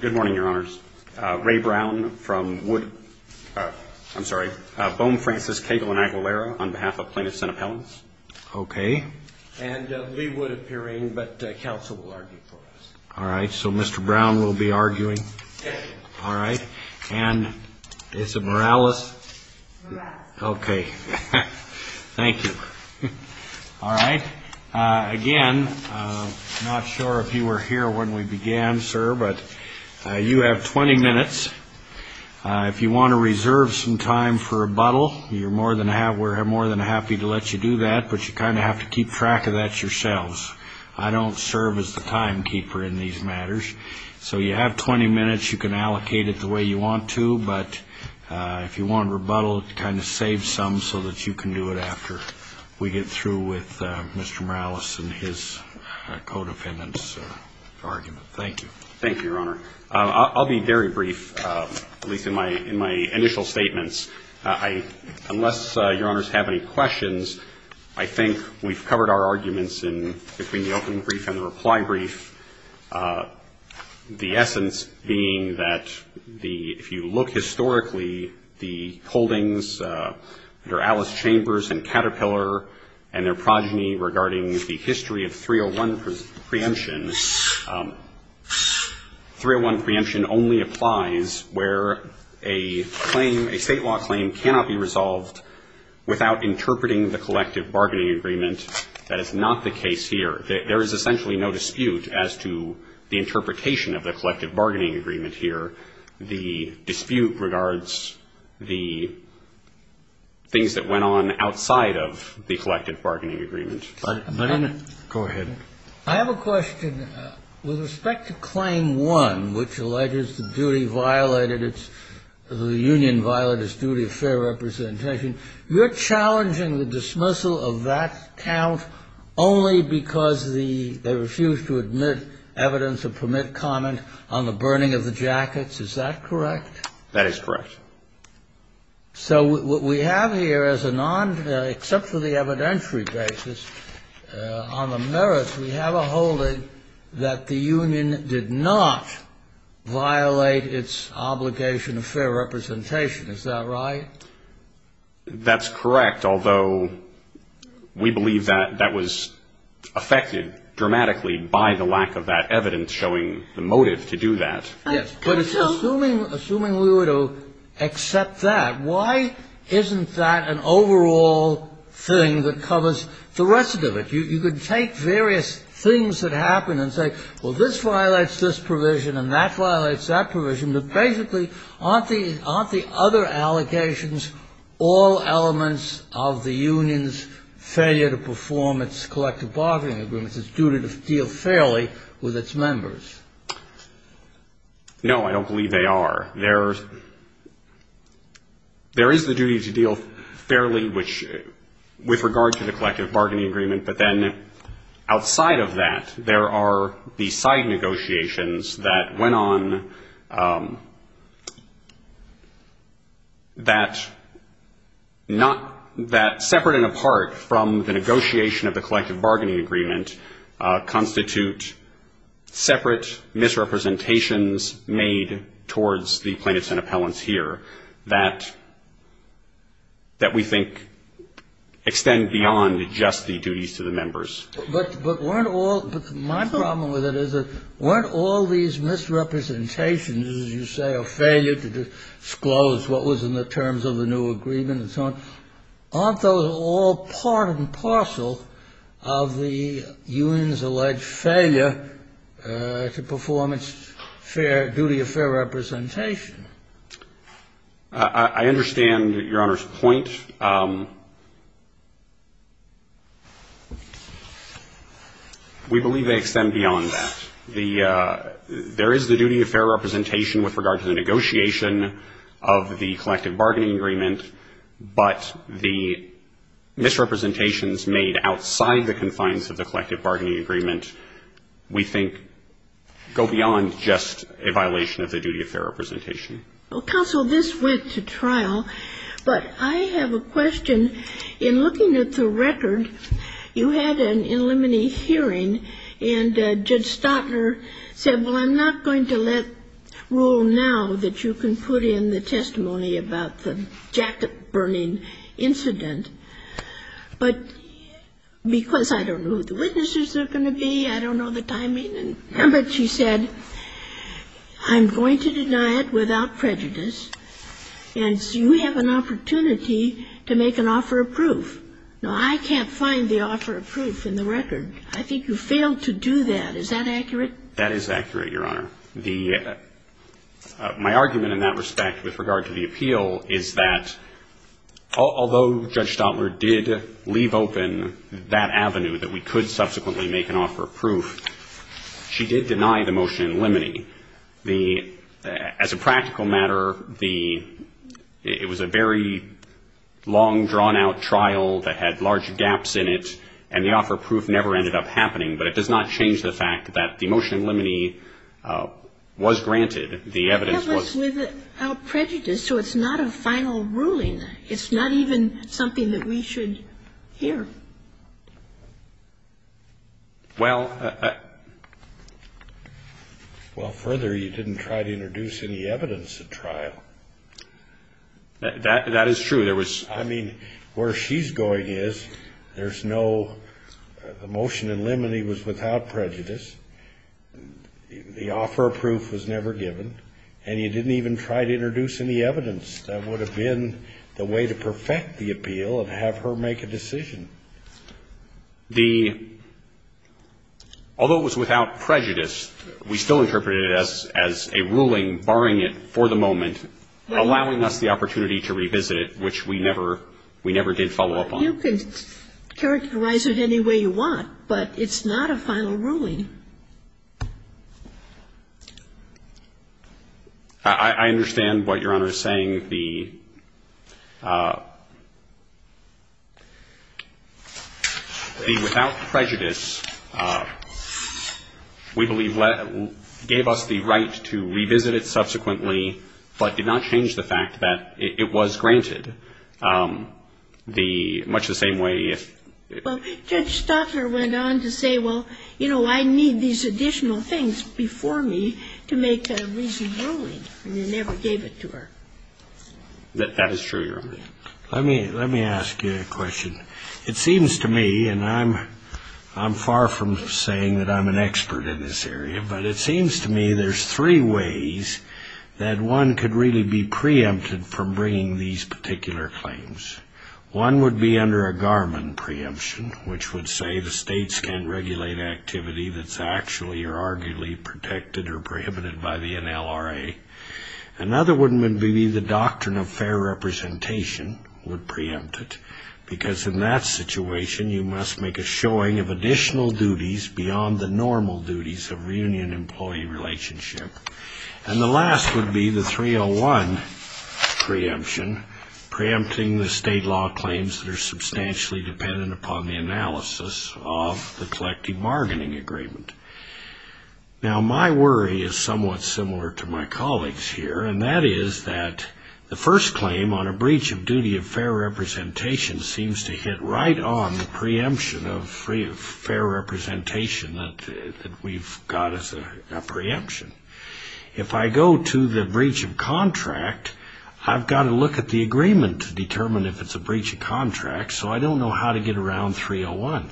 Good morning, your honors. Ray Brown from Wood. I'm sorry, Bohm, Francis, Cagle, and Aguilera on behalf of plaintiffs and appellants. Okay. And Lee Wood appearing, but counsel will argue for us. All right. So Mr. Brown will be arguing. All right. And is it Mireles? Mireles. Okay. Thank you. All right. Again, I'm not sure if you were here when we began, sir, but you have 20 minutes. If you want to reserve some time for rebuttal, we're more than happy to let you do that, but you kind of have to keep track of that yourselves. I don't serve as the timekeeper in these matters. So you have 20 minutes. You can allocate it the way you want to, but if you want rebuttal, kind of save some so that you can do it after we get through with Mr. Mireles and his co-defendants' argument. Thank you. Thank you, your honor. I'll be very brief, at least in my initial statements. Unless your honors have any questions, I think we've covered our arguments between the opening brief and the reply brief. The essence being that if you look historically, the holdings under Alice Chambers and Caterpillar and their progeny regarding the history of 301 preemption, 301 preemption only applies where a state law claim cannot be resolved without interpreting the collective bargaining agreement. That is not the case here. There is essentially no dispute as to the interpretation of the collective bargaining agreement here. The dispute regards the things that went on outside of the collective bargaining agreement. Go ahead. I have a question. With respect to Claim 1, which alleges the duty violated, the union violated its duty of fair representation, you're challenging the dismissal of that count only because they refused to admit evidence or permit comment on the burning of the jackets. Is that correct? That is correct. So what we have here is a non-except for the evidentiary basis on the merits, we have a holding that the union did not violate its obligation of fair representation. Is that right? That's correct, although we believe that that was affected dramatically by the lack of that evidence showing the motive to do that. Yes, but assuming we were to accept that, why isn't that an overall thing that covers the rest of it? You could take various things that happened and say, well, this violates this provision and that violates that provision, but basically aren't the other allegations all elements of the union's failure to perform its collective bargaining agreement, because it's due to deal fairly with its members? No, I don't believe they are. There is the duty to deal fairly with regard to the collective bargaining agreement, but then outside of that, there are the side negotiations that went on that separate and apart from the negotiation of the collective bargaining agreement constitute separate misrepresentations made towards the plaintiffs and appellants here that we think extend beyond just the duties to the members. But weren't all my problem with it is that weren't all these misrepresentations, as you say, a failure to disclose what was in the terms of the new agreement and so on? Aren't those all part and parcel of the union's alleged failure to perform its fair duty of fair representation? I understand Your Honor's point. We believe they extend beyond that. There is the duty of fair representation with regard to the negotiation of the collective bargaining agreement, but the misrepresentations made outside the confines of the collective bargaining agreement we think go beyond just a violation of the duty of fair representation. Counsel, this went to trial, but I have a question. In looking at the record, you had an in limine hearing, and Judge Stotner said, well, I'm not going to let rule now that you can put in the testimony about the jacket-burning incident, but because I don't know who the witnesses are going to be, I don't know the timing, and remember she said, I'm going to deny it without prejudice, and so you have an opportunity to make an offer of proof. Now, I can't find the offer of proof in the record. I think you failed to do that. Is that accurate? That is accurate, Your Honor. My argument in that respect with regard to the appeal is that although Judge Stotner did leave open that avenue that we could subsequently make an offer of proof, she did deny the motion in limine. As a practical matter, it was a very long, drawn-out trial that had large gaps in it, and the offer of proof never ended up happening, but it does not change the fact that the motion in limine was granted. The evidence was ---- It was without prejudice, so it's not a final ruling. It's not even something that we should hear. Well, further, you didn't try to introduce any evidence at trial. That is true. I mean, where she's going is there's no ---- the motion in limine was without prejudice. The offer of proof was never given, and you didn't even try to introduce any evidence. That would have been the way to perfect the appeal of have her make a decision. The ---- although it was without prejudice, we still interpreted it as a ruling barring it for the moment, allowing us the opportunity to revisit it, which we never did follow up on. You can characterize it any way you want, but it's not a final ruling. I understand what Your Honor is saying. The without prejudice, we believe, gave us the right to revisit it subsequently, but did not change the fact that it was granted, much the same way if ---- Well, Judge Stotler went on to say, well, you know, I need these additional things before me to make a reasoned ruling, and you never gave it to her. That is true, Your Honor. Let me ask you a question. It seems to me, and I'm far from saying that I'm an expert in this area, but it seems to me there's three ways that one could really be preempted from bringing these particular claims. One would be under a Garmon preemption, which would say the states can't regulate activity that's actually or arguably protected or prohibited by the NLRA. Another one would be the doctrine of fair representation would preempt it, because in that situation you must make a showing of additional duties beyond the normal duties of reunion employee relationship. And the last would be the 301 preemption, preempting the state law claims that are substantially dependent upon the analysis of the collective bargaining agreement. Now, my worry is somewhat similar to my colleagues' here, and that is that the first claim on a breach of duty of fair representation seems to hit right on the preemption of fair representation that we've got as a preemption. If I go to the breach of contract, I've got to look at the agreement to determine if it's a breach of contract, so I don't know how to get around 301.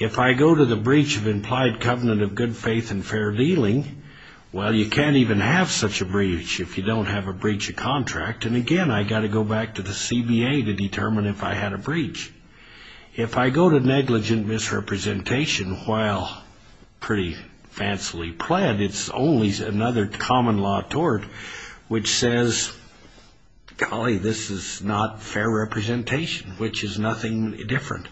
If I go to the breach of implied covenant of good faith and fair dealing, well, you can't even have such a breach if you don't have a breach of contract. And again, I've got to go back to the CBA to determine if I had a breach. If I go to negligent misrepresentation, while pretty fancily pled, it's only another common law tort which says, golly, this is not fair representation, which is nothing different.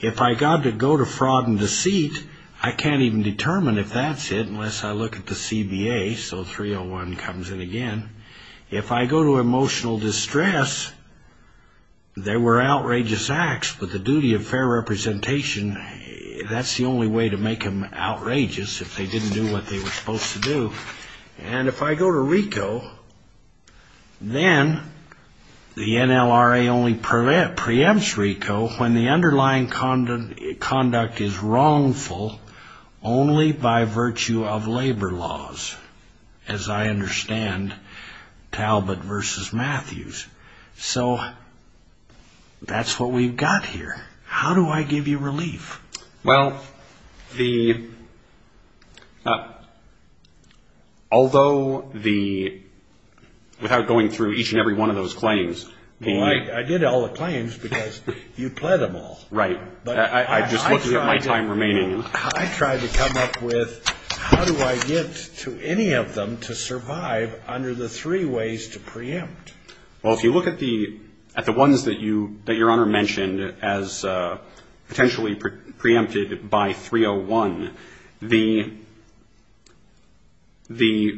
If I got to go to fraud and deceit, I can't even determine if that's it unless I look at the CBA, so 301 comes in again. If I go to emotional distress, there were outrageous acts, but the duty of fair representation, that's the only way to make them outrageous if they didn't do what they were supposed to do. And if I go to RICO, then the NLRA only preempts RICO when the underlying conduct is wrongful only by virtue of labor laws, as I understand Talbot versus Matthews. So, that's what we've got here. How do I give you relief? Well, the, although the, without going through each and every one of those claims. I did all the claims because you pled them all. Right. I just looked at my time remaining. I tried to come up with, how do I get to any of them to survive under the three ways to preempt? Well, if you look at the, at the ones that you, that Your Honor mentioned as potentially preempted by 301, the, the,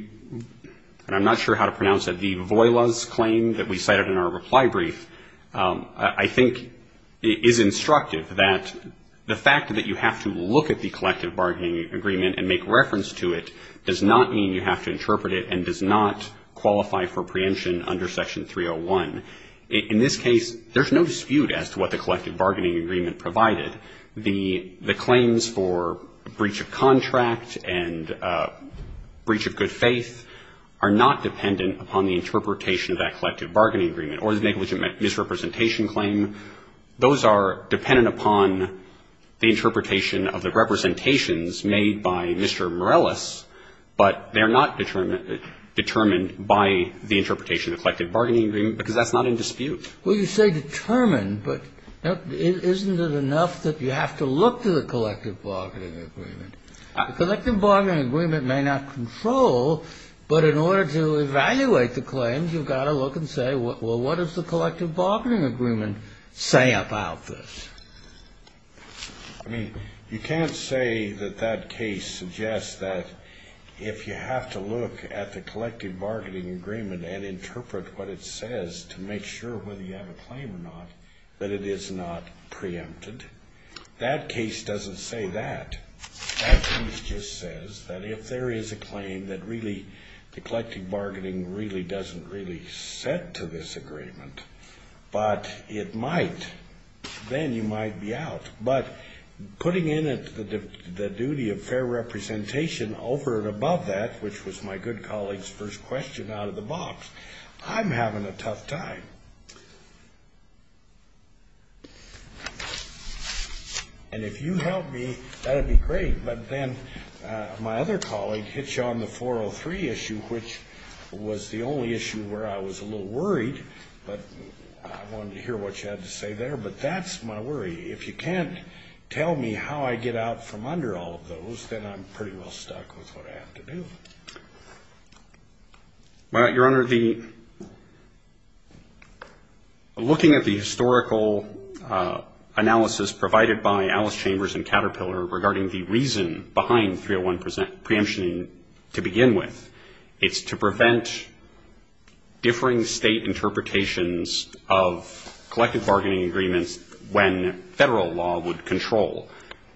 and I'm not sure how to pronounce that, the Voilas claim that we cited in our reply brief, I think is instructive that the fact that you have to look at the collective bargaining agreement and make reference to it does not mean you have to interpret it and does not qualify for preemption under Section 301. In this case, there's no dispute as to what the collective bargaining agreement provided. The, the claims for breach of contract and breach of good faith are not dependent upon the interpretation of that collective bargaining agreement or the negligent misrepresentation claim. Those are dependent upon the interpretation of the representations made by Mr. Morellis, but they're not determined, determined by the interpretation of the collective bargaining agreement because that's not in dispute. Well, you say determined, but isn't it enough that you have to look to the collective bargaining agreement? The collective bargaining agreement may not control, but in order to evaluate the claims, you've got to look and say, well, what does the collective bargaining agreement say about this? I mean, you can't say that that case suggests that if you have to look at the collective bargaining agreement and interpret what it says to make sure whether you have a claim or not, that it is not preempted. That case doesn't say that. That case just says that if there is a claim that really the collective bargaining really doesn't really set to this agreement, but it might, then you might be out. But putting in it the duty of fair representation over and above that, which was my good colleague's first question out of the box, I'm having a tough time. And if you help me, that would be great. But then my other colleague hit you on the 403 issue, which was the only issue where I was a little worried, but I wanted to hear what you had to say there. But that's my worry. If you can't tell me how I get out from under all of those, then I'm pretty well stuck with what I have to do. Well, Your Honor, looking at the historical analysis provided by Alice Chambers and Caterpillar regarding the reason behind 301 preemption to begin with, it's to prevent differing State interpretations of collective bargaining agreements when Federal law would control.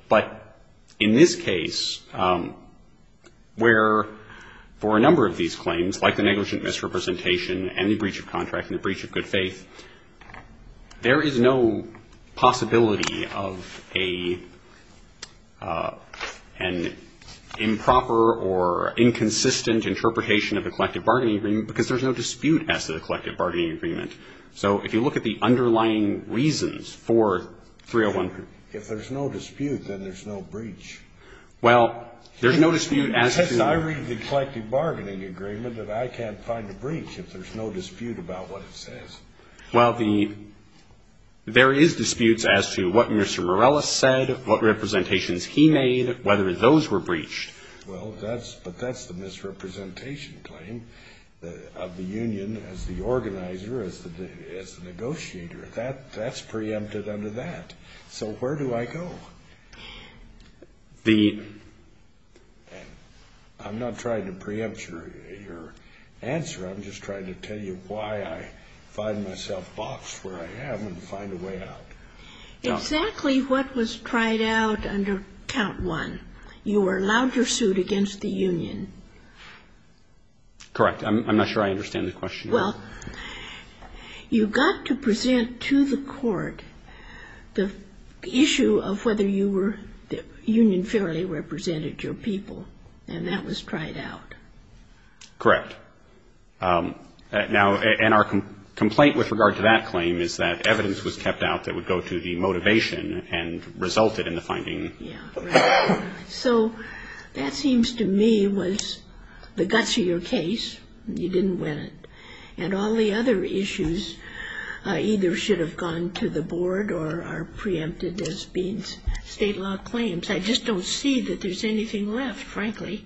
But in this case, where for a number of these claims, like the negligent misrepresentation and the breach of contract and the breach of good faith, there is no possibility of an improper or inconsistent interpretation of the collective bargaining agreement because there's no dispute as to the collective bargaining agreement. So if you look at the underlying reasons for 301 preemption. If there's no dispute, then there's no breach. Well, there's no dispute as to... It says I read the collective bargaining agreement that I can't find a breach if there's no dispute about what it says. Well, there is disputes as to what Mr. Morellis said, what representations he made, whether those were breached. Well, but that's the misrepresentation claim of the union as the organizer, as the negotiator. That's preempted under that. So where do I go? The... I'm not trying to preempt your answer. I'm just trying to tell you why I find myself boxed where I am and find a way out. Exactly what was tried out under count one. You were allowed your suit against the union. Correct. I'm not sure I understand the question. Well, you got to present to the court the issue of whether you were... the union fairly represented your people, and that was tried out. Correct. Now, and our complaint with regard to that claim is that evidence was kept out that would go to the motivation and resulted in the finding. Yeah, right. So that seems to me was the guts of your case. You didn't win it. And all the other issues either should have gone to the board or are preempted as being state law claims. I just don't see that there's anything left, frankly.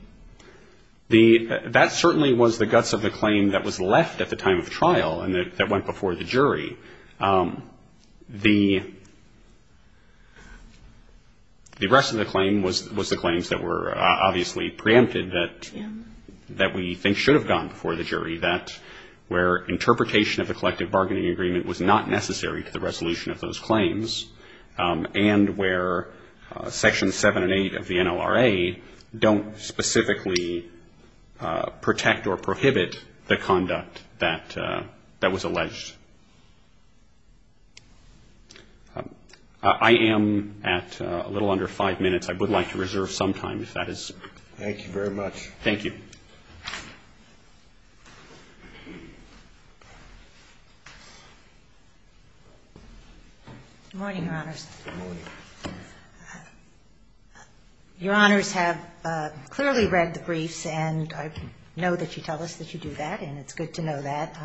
That certainly was the guts of the claim that was left at the time of trial and that went before the jury. The rest of the claim was the claims that were obviously preempted that we think should have gone before the jury, that where interpretation of the collective bargaining agreement was not necessary to the resolution of those claims, and where Section 7 and 8 of the NLRA don't specifically protect or prohibit the conduct that was alleged. I am at a little under five minutes. I would like to reserve some time if that is... Thank you very much. Thank you. Good morning, Your Honors. Good morning. Your Honors have clearly read the briefs, and I know that you tell us that you do that, and it's good to know that.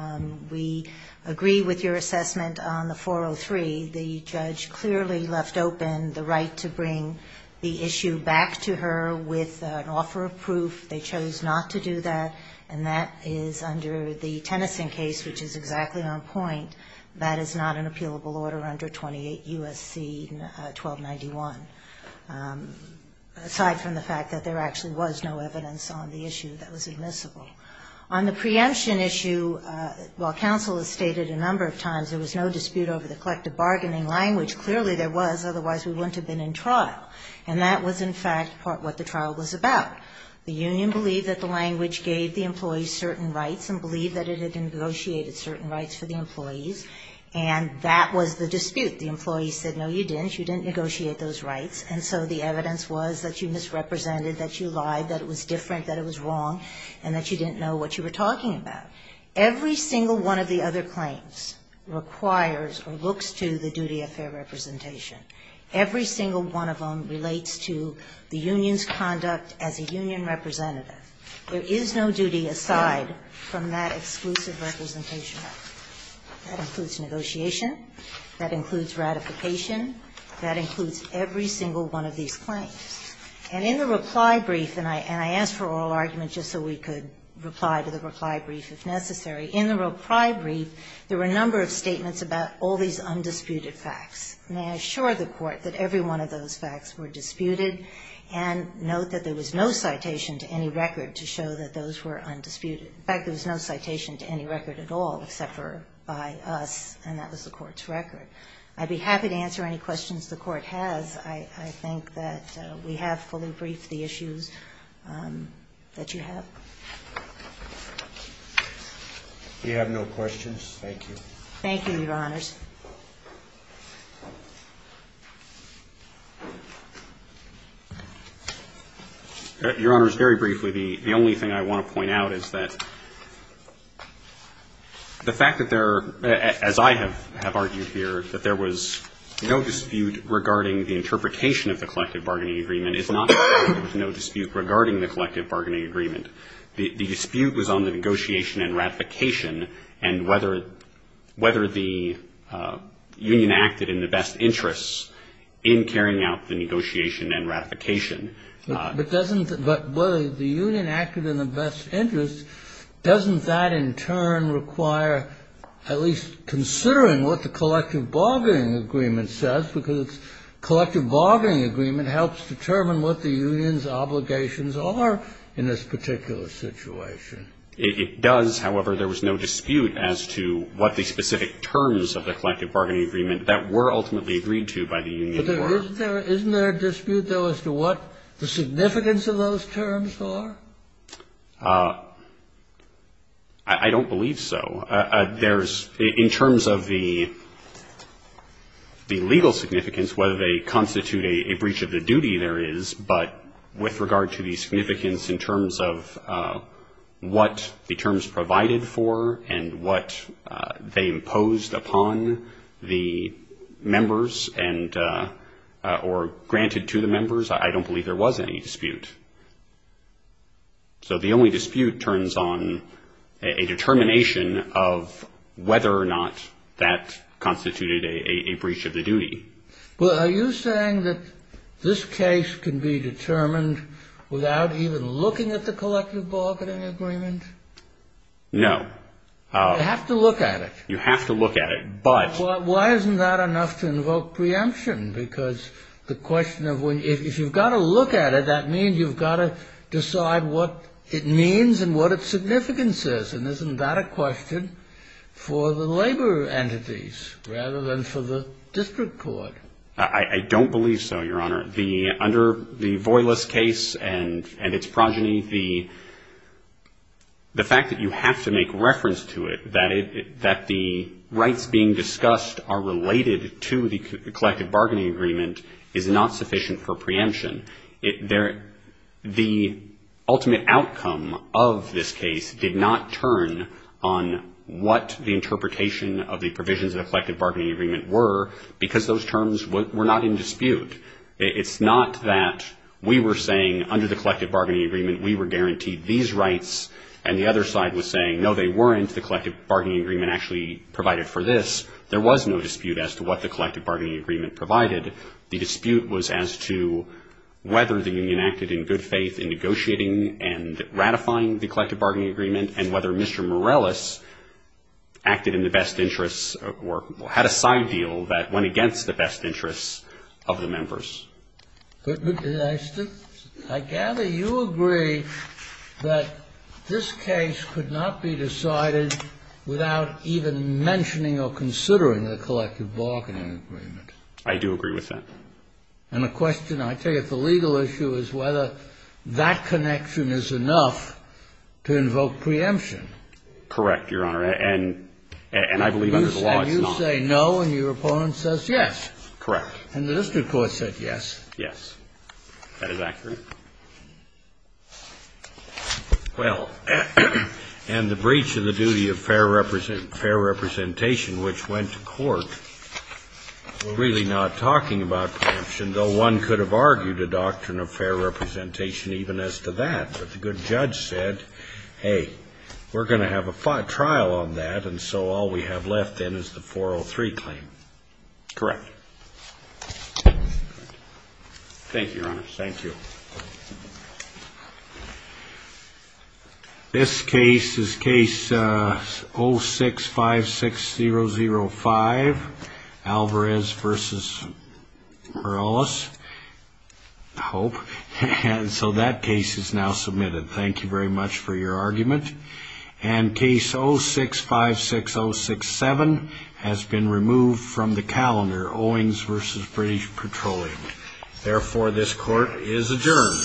We agree with your assessment on the 403. The judge clearly left open the right to bring the issue back to her with an offer of proof. They chose not to do that, and that is under the Tennyson case, which is exactly on point. That is not an appealable order under 28 U.S.C. 1291, aside from the fact that there actually was no evidence on the issue that was admissible. On the preemption issue, while counsel has stated a number of times there was no dispute over the collective bargaining language, clearly there was, otherwise we wouldn't have been in trial. And that was, in fact, what the trial was about. The union believed that the language gave the employees certain rights and believed that it had negotiated certain rights for the employees, and that was the dispute. The employees said, no, you didn't, you didn't negotiate those rights, and so the evidence was that you misrepresented, that you lied, that it was different, that it was wrong, and that you didn't know what you were talking about. Every single one of the other claims requires or looks to the duty of fair representation. Every single one of them relates to the union's conduct as a union representative. There is no duty aside from that exclusive representation. That includes negotiation. That includes ratification. That includes every single one of these claims. And in the reply brief, and I asked for oral argument just so we could reply to the reply brief if necessary, in the reply brief there were a number of statements about all these undisputed facts. May I assure the Court that every one of those facts were disputed, and note that there was no citation to any record to show that those were undisputed. In fact, there was no citation to any record at all except for by us, and that was the Court's record. I'd be happy to answer any questions the Court has. I think that we have fully briefed the issues that you have. We have no questions. Thank you. Thank you, Your Honors. Your Honors, very briefly, the only thing I want to point out is that the fact that I have argued here that there was no dispute regarding the interpretation of the Collective Bargaining Agreement is not to say that there was no dispute regarding the Collective Bargaining Agreement. The dispute was on the negotiation and ratification and whether the union acted in the best interests doesn't that in turn require at least considering what the Collective Bargaining Agreement says, because the Collective Bargaining Agreement helps determine what the union's obligations are in this particular situation. It does. However, there was no dispute as to what the specific terms of the Collective Bargaining Agreement were. Isn't there a dispute, though, as to what the significance of those terms are? I don't believe so. There's, in terms of the legal significance, whether they constitute a breach of the duty there is, but with regard to the significance in terms of what the terms provided for and what they imposed upon the members or granted to the members, I don't believe there was any dispute. So the only dispute turns on a determination of whether or not that constituted a breach of the duty. Well, are you saying that this case can be determined without even looking at the Collective Bargaining Agreement? No. You have to look at it. You have to look at it, but... Why isn't that enough to invoke preemption? Because the question of when... If you've got to look at it, that means you've got to decide what it means and what its significance is. And isn't that a question for the labor entities rather than for the district court? I don't believe so, Your Honor. Under the Voylis case and its progeny, the fact that you have to make reference to it, that the rights being discussed are related to the Collective Bargaining Agreement is not sufficient for preemption. The ultimate outcome of this case did not turn on what the interpretation of the provisions of the Collective Bargaining Agreement were because those terms were not in dispute. It's not that we were saying under the Collective Bargaining Agreement we were guaranteed these rights and the other side was saying, no, they weren't. The Collective Bargaining Agreement actually provided for this. There was no dispute as to what the Collective Bargaining Agreement provided. The dispute was as to whether the union acted in good faith in negotiating and ratifying the Collective Bargaining Agreement and whether Mr. Morales acted in the best interests or had a side deal that went against the best interests of the members. I gather you agree that this case could not be decided without even mentioning or considering the Collective Bargaining Agreement. I do agree with that. And the question, I tell you, the legal issue is whether that connection is enough to invoke preemption. Correct, Your Honor. And I believe under the law it's not. You say no and your opponent says yes. Correct. And the district court said yes. Yes. That is accurate. Well, and the breach of the duty of fair representation, which went to court, really not talking about preemption, though one could have argued a doctrine of fair representation even as to that. But the good judge said, hey, we're going to have a trial on that, and so all we have left then is the 403 claim. Correct. Thank you, Your Honor. Thank you. This case is Case 06-56005, Alvarez v. Morales, I hope. And so that case is now submitted. Thank you very much for your argument. And Case 0656067 has been removed from the calendar, Owings v. British Petroleum. Therefore, this court is adjourned.